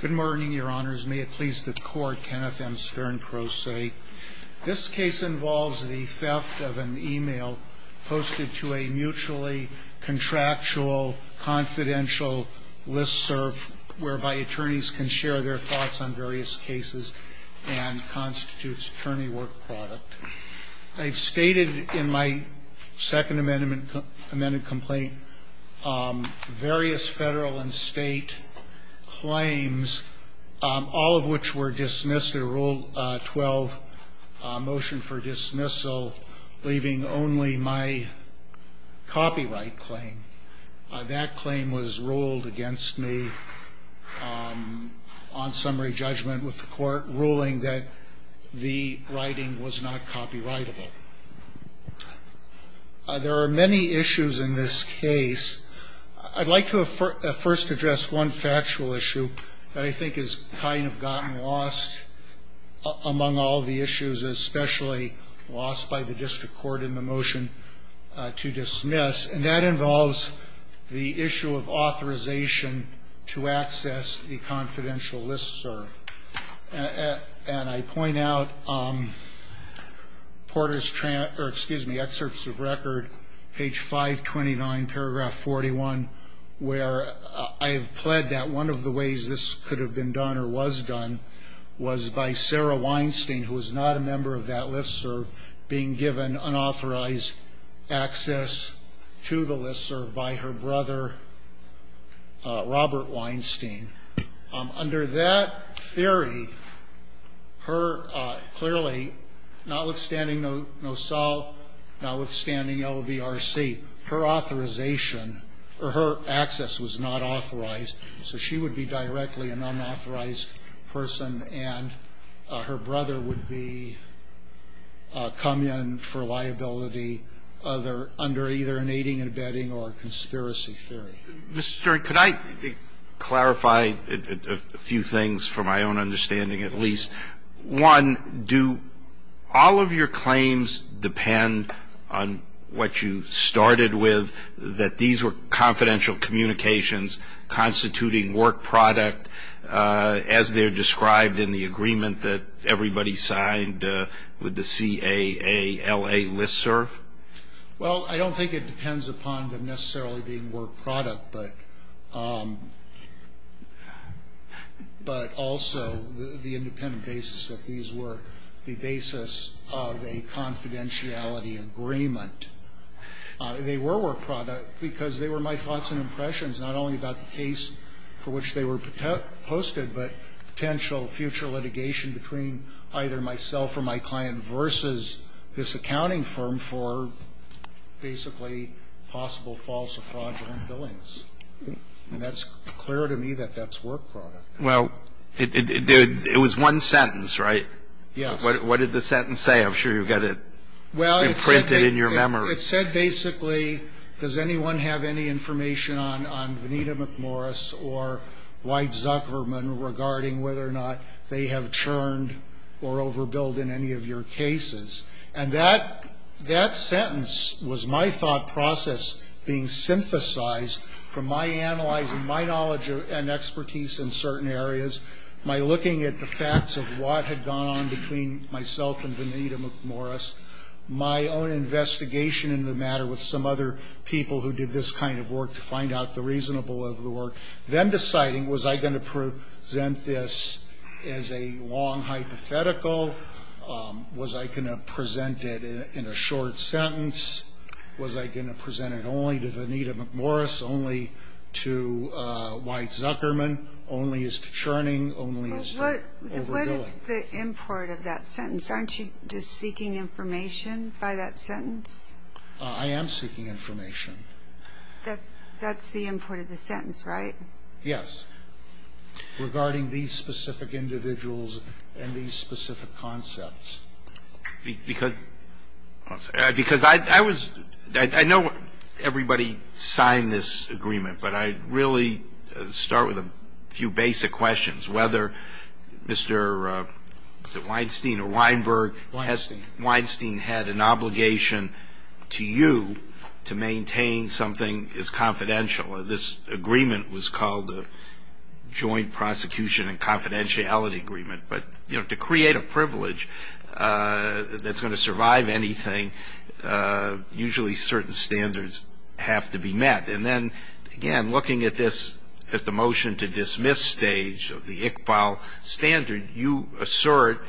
Good morning, Your Honors. May it please the Court, Kenneth M. Stern, pro se. This case involves the theft of an email posted to a mutually contractual confidential listserv whereby attorneys can share their thoughts on various cases and constitutes attorney work product. I've stated in my second amended complaint various federal and state claims, all of which were dismissed under Rule 12, Motion for Dismissal, leaving only my copyright claim. That claim was ruled against me on summary judgment with the Court ruling that the writing was not copyrightable. There are many issues in this case. I'd like to first address one factual issue that I think has kind of gotten lost among all the issues, especially lost by the district court in the motion to dismiss, and that involves the issue of authorization to access the confidential listserv. And I point out Porter's, or excuse me, Excerpts of Record, page 529, paragraph 41, where I have pled that one of the ways this could have been done or was done was by Sarah Weinstein, who was not a member of that listserv, being given unauthorized access to the listserv by her brother, Robert Weinstein. Under that theory, her clearly, notwithstanding NOSALT, notwithstanding LVRC, her authorization or her access was not authorized, so she would be directly an unauthorized person and her brother would be come in for liability under either an aiding and abetting or a conspiracy theory. Mr. Stewart, could I clarify a few things for my own understanding at least? One, do all of your claims depend on what you started with, that these were confidential communications constituting work product, as they're described in the agreement that everybody signed with the CAALA listserv? Well, I don't think it depends upon them necessarily being work product, but also the independent basis that these were the basis of a confidentiality agreement. They were work product because they were my thoughts and impressions, not only about the case for which they were posted, but potential future litigation between either myself or my client versus this accounting firm for basically possible false or fraudulent billings. And that's clear to me that that's work product. Well, it was one sentence, right? Yes. What did the sentence say? I'm sure you've got it imprinted in your memory. Well, it said basically, does anyone have any information on Vanita McMorris or White Zuckerman regarding whether or not they have churned or overbilled in any of your cases? And that sentence was my thought process being synthesized from my analyzing, my knowledge and expertise in certain areas, my looking at the facts of what had gone on between myself and Vanita McMorris, my own investigation in the matter with some other people who did this kind of work to find out the reasonable of the work, then deciding was I going to present this as a long hypothetical, was I going to present it in a short sentence, was I going to present it only to Vanita McMorris, only to White Zuckerman, only as to churning, only as to overbilling. What is the import of that sentence? Aren't you just seeking information by that sentence? I am seeking information. That's the import of the sentence, right? Yes. Regarding these specific individuals and these specific concepts. Because I was – I know everybody signed this agreement, but I'd really start with a few basic questions, whether Mr. Weinstein or Weinberg. Weinstein. Weinstein had an obligation to you to maintain something is confidential. This agreement was called the Joint Prosecution and Confidentiality Agreement. But, you know, to create a privilege that's going to survive anything, usually certain standards have to be met. And then, again, looking at this, at the motion to dismiss stage of the Iqbal standard, you assert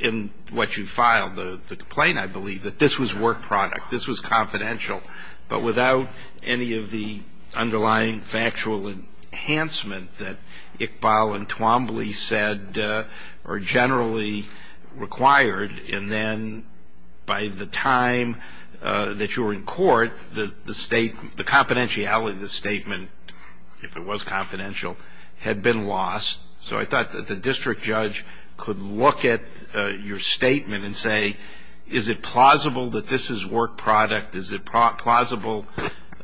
in what you filed, the complaint, I believe, that this was work product. This was confidential. But without any of the underlying factual enhancement that Iqbal and Twombly said are generally required, and then by the time that you were in court, the confidentiality of the statement, if it was confidential, had been lost. So I thought that the district judge could look at your statement and say, is it plausible that this is work product? Is it plausible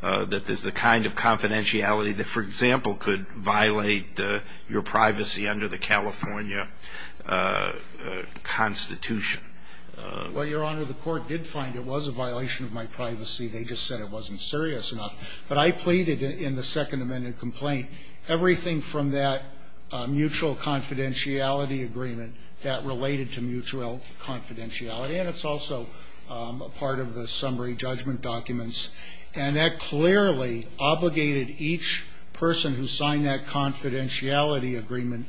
that this is the kind of confidentiality that, for example, could violate your privacy under the California Constitution? Well, Your Honor, the court did find it was a violation of my privacy. They just said it wasn't serious enough. But I pleaded in the Second Amendment complaint everything from that mutual confidentiality agreement that related to mutual confidentiality. And it's also a part of the summary judgment documents. And that clearly obligated each person who signed that confidentiality agreement.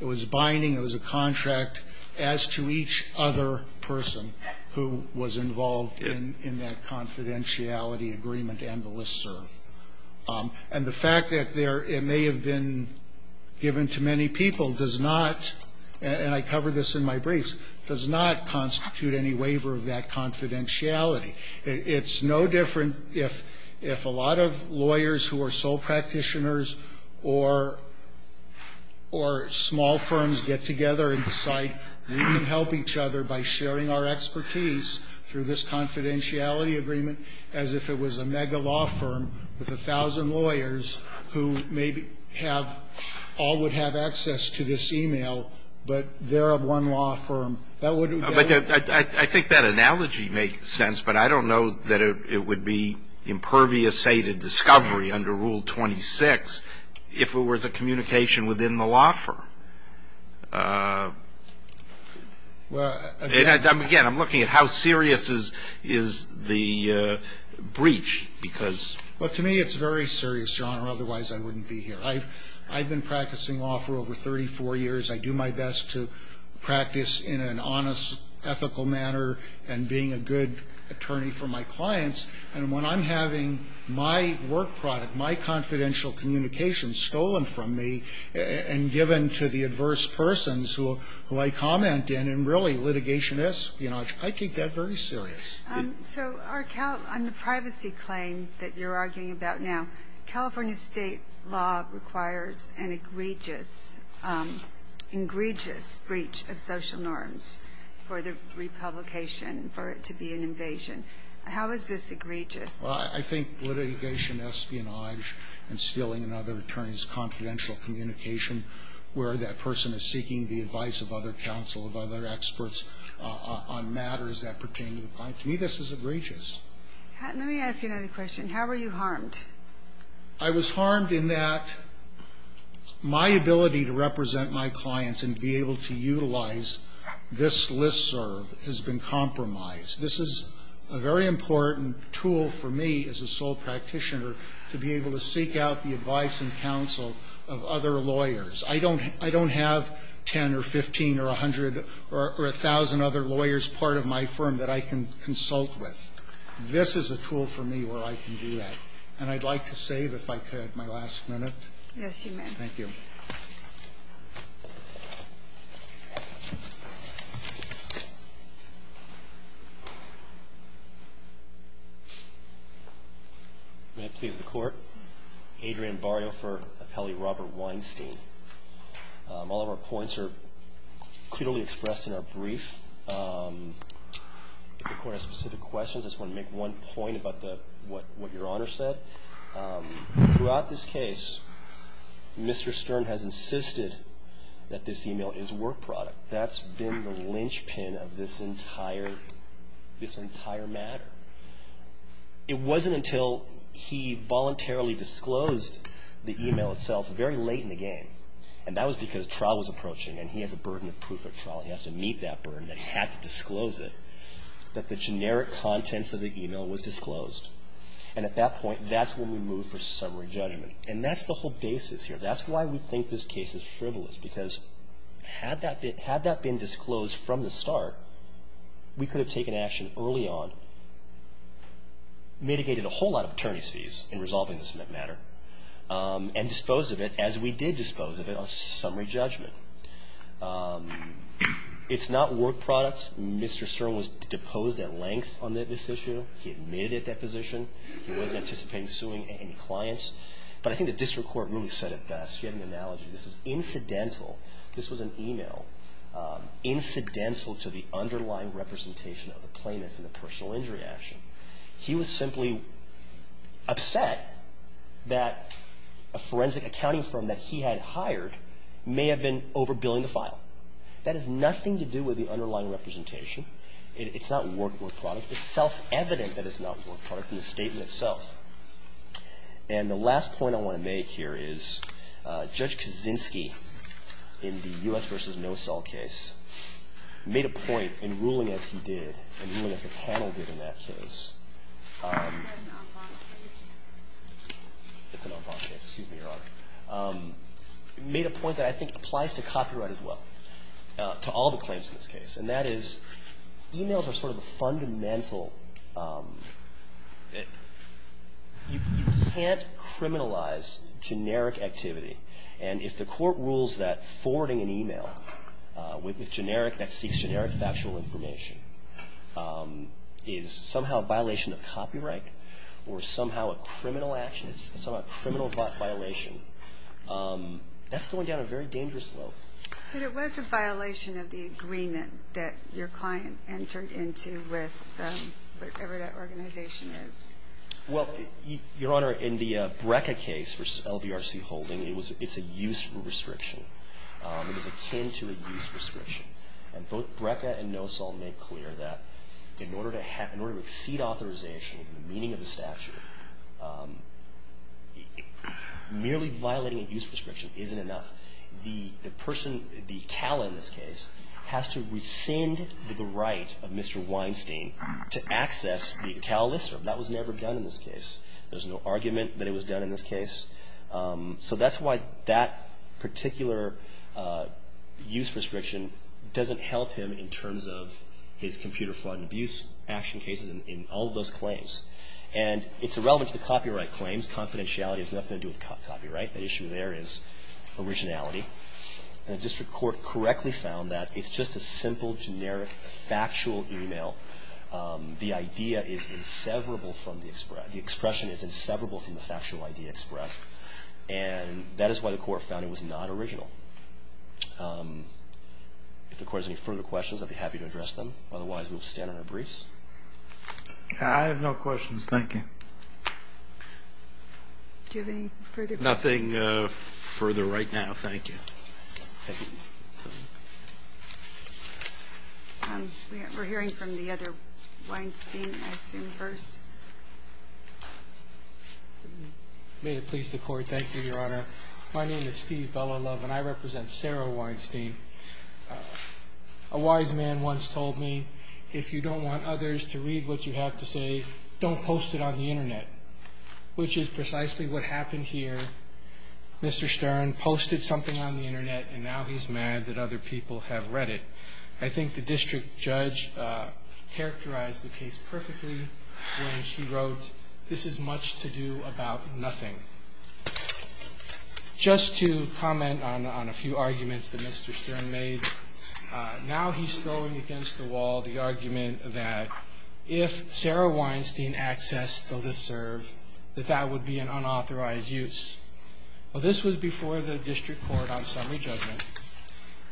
It was binding. It was a contract as to each other person who was involved in that confidentiality agreement and the listserv. And the fact that it may have been given to many people does not, and I cover this in my briefs, does not constitute any waiver of that confidentiality. It's no different if a lot of lawyers who are sole practitioners or small firms get together and decide we can help each other by sharing our expertise through this confidentiality agreement as if it was a mega law firm with a thousand lawyers who maybe have all would have access to this e-mail, but they're one law firm. But I think that analogy makes sense, but I don't know that it would be impervious, say, to discovery under Rule 26 if it was a communication within the law firm. Again, I'm looking at how serious is the breach because to me it's very serious, Your Honor, otherwise I wouldn't be here. I've been practicing law for over 34 years. I do my best to practice in an honest, ethical manner and being a good attorney for my clients. And when I'm having my work product, my confidential communications stolen from me and given to the adverse persons who I comment in, and really litigation is, you know, I take that very serious. So on the privacy claim that you're arguing about now, California State law requires an egregious, egregious breach of social norms for the republication, for it to be an invasion. How is this egregious? Well, I think litigation, espionage, and stealing another attorney's confidential communication where that person is seeking the advice of other counsel, of other I was harmed in that my ability to represent my clients and be able to utilize this listserv has been compromised. This is a very important tool for me as a sole practitioner to be able to seek out the advice and counsel of other lawyers. I don't have ten or 15 or 100 or 1,000 other lawyers part of my firm that I can consult and consult with. This is a tool for me where I can do that. And I'd like to save, if I could, my last minute. Yes, you may. Thank you. May it please the Court? Adrian Barrio for appellee Robert Weinstein. All of our points are clearly expressed in our brief. If the Court has specific questions, I just want to make one point about what Your Honor said. Throughout this case, Mr. Stern has insisted that this email is work product. That's been the linchpin of this entire matter. It wasn't until he voluntarily disclosed the email itself very late in the game, and that was because trial was approaching, and he has a burden of proof at trial. He has to meet that burden that he had to disclose it, that the generic contents of the email was disclosed. And at that point, that's when we move for summary judgment. And that's the whole basis here. That's why we think this case is frivolous, because had that been disclosed from the start, we could have taken action early on, mitigated a whole lot of attorneys' fees in resolving this matter, and disposed of it as we did dispose of it on summary judgment. It's not work product. Mr. Stern was deposed at length on this issue. He admitted at deposition. He wasn't anticipating suing any clients. But I think the district court really said it best. You have an analogy. This is incidental. This was an email. Incidental to the underlying representation of the plaintiff in the personal injury action. He was simply upset that a forensic accounting firm that he had hired may have been overbilling the file. That has nothing to do with the underlying representation. It's not work product. It's self-evident that it's not work product in the statement itself. And the last point I want to make here is Judge Kaczynski, in the U.S. v. No-Sol case, made a point in ruling as he did, in ruling as the panel did in that case. Is that an en banc case? It's an en banc case. Excuse me, Your Honor. He made a point that I think applies to copyright as well, to all the claims in this case. And that is, emails are sort of a fundamental. You can't criminalize generic activity. And if the court rules that forwarding an email that seeks generic factual information is somehow a violation of copyright or somehow a criminal violation, that's going down a very dangerous slope. But it was a violation of the agreement that your client entered into with whatever that organization is. Well, Your Honor, in the Breca case v. LBRC Holding, it's a use restriction. It is akin to a use restriction. And both Breca and No-Sol make clear that in order to exceed authorization, the meaning of the statute, merely violating a use restriction isn't enough. The person, the CALA in this case, has to rescind the right of Mr. Weinstein to access the CALA listserv. That was never done in this case. There's no argument that it was done in this case. So that's why that particular use restriction doesn't help him in terms of his computer fraud and abuse action cases and all of those claims. And it's irrelevant to the copyright claims. Confidentiality has nothing to do with copyright. The issue there is originality. And the district court correctly found that it's just a simple, generic, factual email. The idea is inseparable from the expression. The expression is inseparable from the factual idea expressed. And that is why the court found it was not original. If the court has any further questions, I'd be happy to address them. Otherwise, we'll stand on our briefs. I have no questions. Thank you. Do you have any further questions? Nothing further right now. Thank you. We're hearing from the other Weinstein. I assume first. May it please the court. Thank you, Your Honor. My name is Steve Belolove, and I represent Sarah Weinstein. A wise man once told me, If you don't want others to read what you have to say, don't post it on the Internet, which is precisely what happened here. Mr. Stern posted something on the Internet, and now he's mad that other people have read it. I think the district judge characterized the case perfectly when he wrote, This is much to do about nothing. Just to comment on a few arguments that Mr. Stern made, Now he's throwing against the wall the argument that if Sarah Weinstein accessed the LISTSERV, that that would be an unauthorized use. Well, this was before the district court on summary judgment,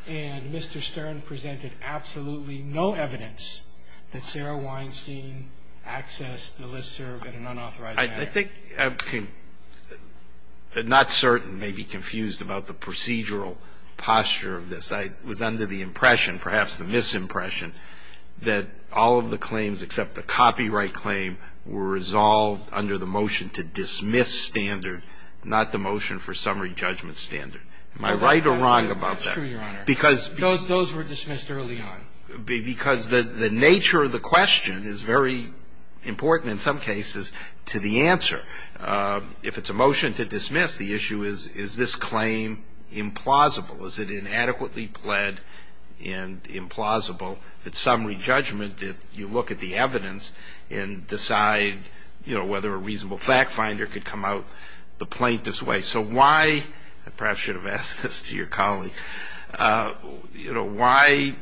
and Mr. Stern presented absolutely no evidence that Sarah Weinstein accessed the LISTSERV in an unauthorized manner. I think I'm not certain, maybe confused about the procedural posture of this. I was under the impression, perhaps the misimpression, that all of the claims except the copyright claim were resolved under the motion to dismiss standard, not the motion for summary judgment standard. Am I right or wrong about that? That's true, Your Honor. Because Those were dismissed early on. Because the nature of the question is very important in some cases to the answer. If it's a motion to dismiss, the issue is, is this claim implausible? Is it inadequately pled and implausible that summary judgment, if you look at the evidence and decide whether a reasonable fact finder could come out the plaintiff's way. So why, I perhaps should have asked this to your colleague, why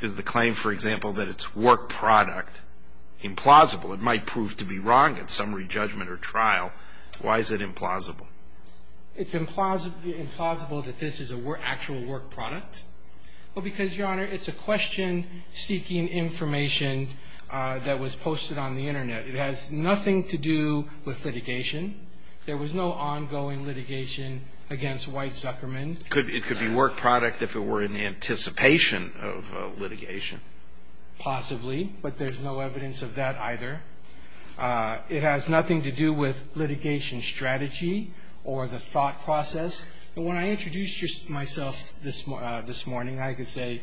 is the claim, for example, that it's work product implausible? It might prove to be wrong at summary judgment or trial. Why is it implausible? It's implausible that this is an actual work product. Well, because, Your Honor, it's a question seeking information that was posted on the Internet. It has nothing to do with litigation. There was no ongoing litigation against White Suckerman. It could be work product if it were in anticipation of litigation. Possibly. But there's no evidence of that either. It has nothing to do with litigation strategy or the thought process. And when I introduced myself this morning, I could say,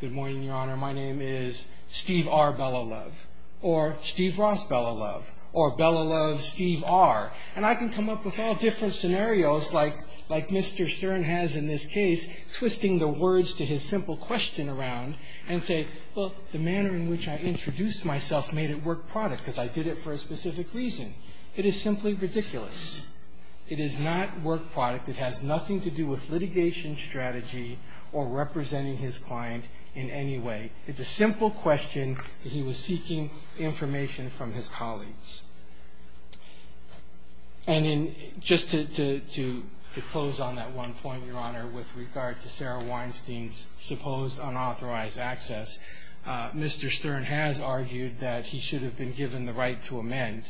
good morning, Your Honor. My name is Steve R. Belolove or Steve Ross Belolove or Belolove Steve R. And I can come up with all different scenarios like Mr. Stern has in this case, twisting the words to his simple question around and say, well, the manner in which I introduced myself made it work product because I did it for a specific reason. It is simply ridiculous. It is not work product. It has nothing to do with litigation strategy or representing his client in any way. It's a simple question. He was seeking information from his colleagues. And just to close on that one point, Your Honor, with regard to Sarah Weinstein's supposed unauthorized access, Mr. Stern has argued that he should have been given the right to amend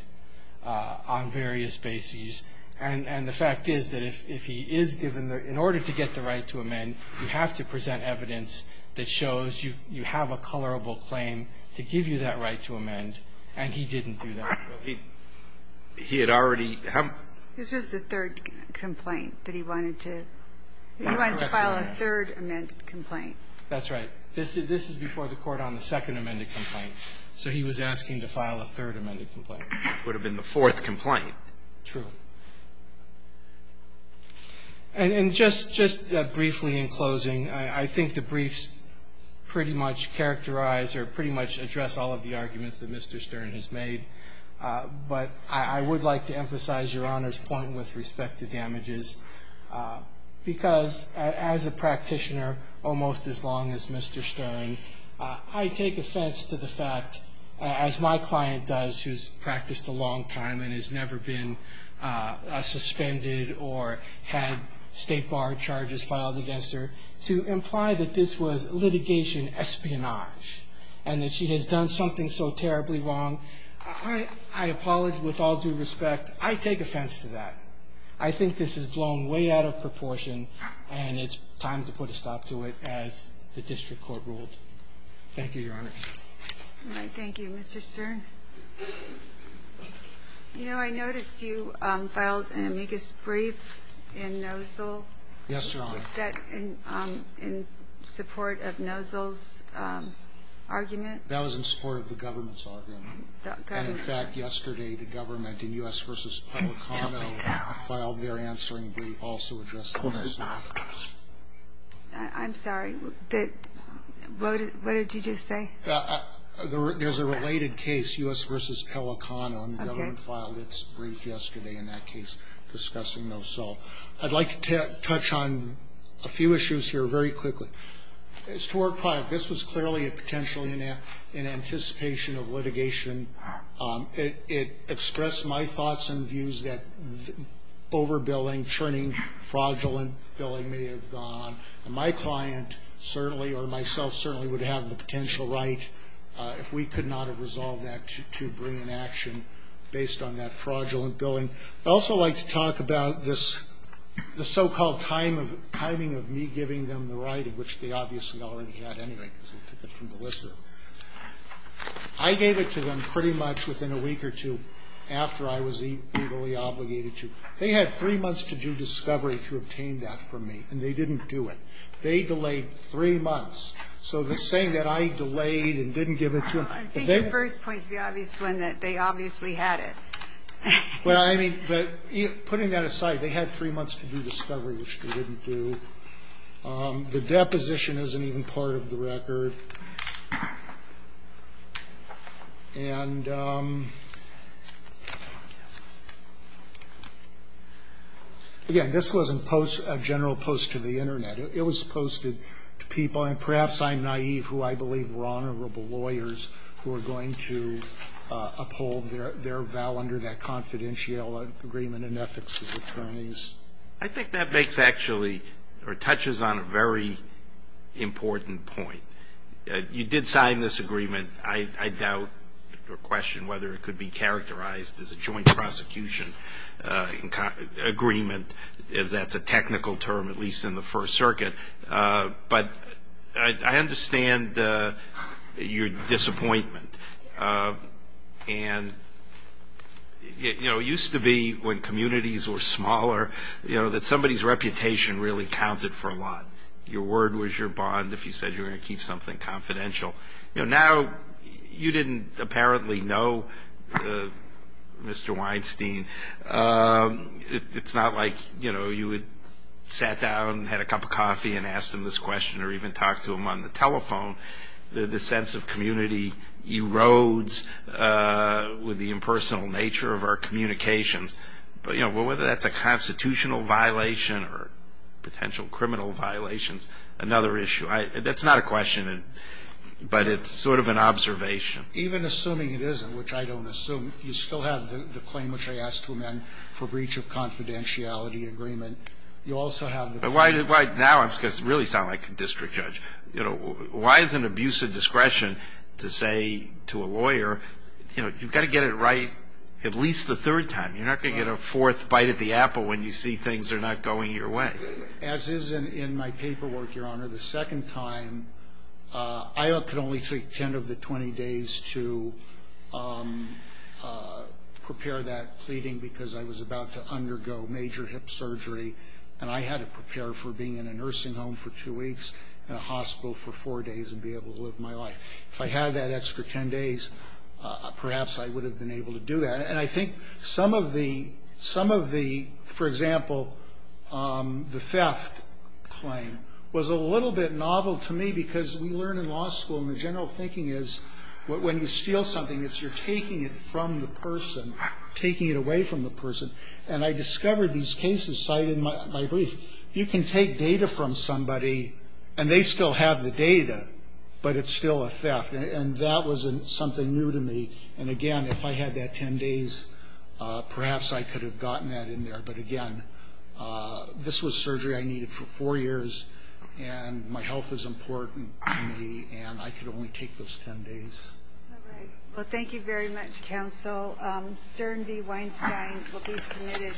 on various bases. And the fact is that if he is given the – in order to get the right to amend, you have to present evidence that shows you have a colorable claim to give you that right to amend. And he didn't do that. He had already – This was the third complaint that he wanted to – That's correct, Your Honor. He wanted to file a third amended complaint. That's right. This is before the Court on the second amended complaint. So he was asking to file a third amended complaint. It would have been the fourth complaint. True. And just briefly in closing, I think the briefs pretty much characterize or pretty much address all of the arguments that Mr. Stern has made. But I would like to emphasize Your Honor's point with respect to damages, because as a practitioner almost as long as Mr. Stern, I take offense to the fact, as my client does, who's practiced a long time and has never been suspended or had state bar charges filed against her, to imply that this was litigation espionage and that she has done something so terribly wrong. I apologize with all due respect. I take offense to that. I think this has blown way out of proportion, and it's time to put a stop to it as the district court ruled. Thank you, Your Honor. All right. Thank you, Mr. Stern. You know, I noticed you filed an amicus brief in Nozzle. Yes, Your Honor. Is that in support of Nozzle's argument? That was in support of the government's argument. And, in fact, yesterday the government in U.S. v. Pelicano filed their answering brief also addressing this. I'm sorry. What did you just say? There's a related case, U.S. v. Pelicano, and the government filed its brief yesterday in that case discussing Nozzle. I'd like to touch on a few issues here very quickly. As to our product, this was clearly a potential in anticipation of litigation. It expressed my thoughts and views that overbilling, churning, fraudulent billing may have gone on. And my client certainly or myself certainly would have the potential right, if we could not have resolved that, to bring an action based on that fraudulent billing. I'd also like to talk about this so-called timing of me giving them the right, which they obviously already had anyway because they took it from the listener. I gave it to them pretty much within a week or two after I was legally obligated to. They had three months to do discovery to obtain that from me, and they didn't do it. They delayed three months. So the saying that I delayed and didn't give it to them. I think the first point is the obvious one, that they obviously had it. Well, I mean, but putting that aside, they had three months to do discovery, which they didn't do. The deposition isn't even part of the record. And, again, this wasn't a general post to the Internet. It was posted to people, and perhaps I'm naive, who I believe were honorable lawyers who are going to uphold their vow under that confidential agreement and ethics of attorneys. I think that makes actually or touches on a very important point. You did sign this agreement. I doubt or question whether it could be characterized as a joint prosecution agreement, as that's a technical term, at least in the First Circuit. But I understand your disappointment. And, you know, it used to be when communities were smaller, you know, that somebody's reputation really counted for a lot. Your word was your bond if you said you were going to keep something confidential. You know, now you didn't apparently know Mr. Weinstein. It's not like, you know, you would sit down and have a cup of coffee and ask him this question or even talk to him on the telephone. The sense of community erodes with the impersonal nature of our communications. But, you know, whether that's a constitutional violation or potential criminal violations, another issue. That's not a question, but it's sort of an observation. Even assuming it isn't, which I don't assume, you still have the claim which I asked to amend for breach of confidentiality agreement. You also have the claim. Now I'm going to really sound like a district judge. You know, why is an abuse of discretion to say to a lawyer, you know, you've got to get it right at least the third time. You're not going to get a fourth bite at the apple when you see things are not going your way. As is in my paperwork, Your Honor, the second time, I could only take 10 of the 20 days to prepare that pleading because I was about to undergo major hip surgery. And I had to prepare for being in a nursing home for two weeks and a hospital for four days and be able to live my life. If I had that extra 10 days, perhaps I would have been able to do that. And I think some of the, for example, the theft claim was a little bit novel to me because we learn in law school and the general thinking is when you steal something, it's you're taking it from the person, taking it away from the person. And I discovered these cases cited in my brief. You can take data from somebody, and they still have the data, but it's still a theft. And that was something new to me. And, again, if I had that 10 days, perhaps I could have gotten that in there. But, again, this was surgery I needed for four years, and my health is important to me, and I could only take those 10 days. All right. Well, thank you very much, counsel. Stern v. Weinstein will be submitted.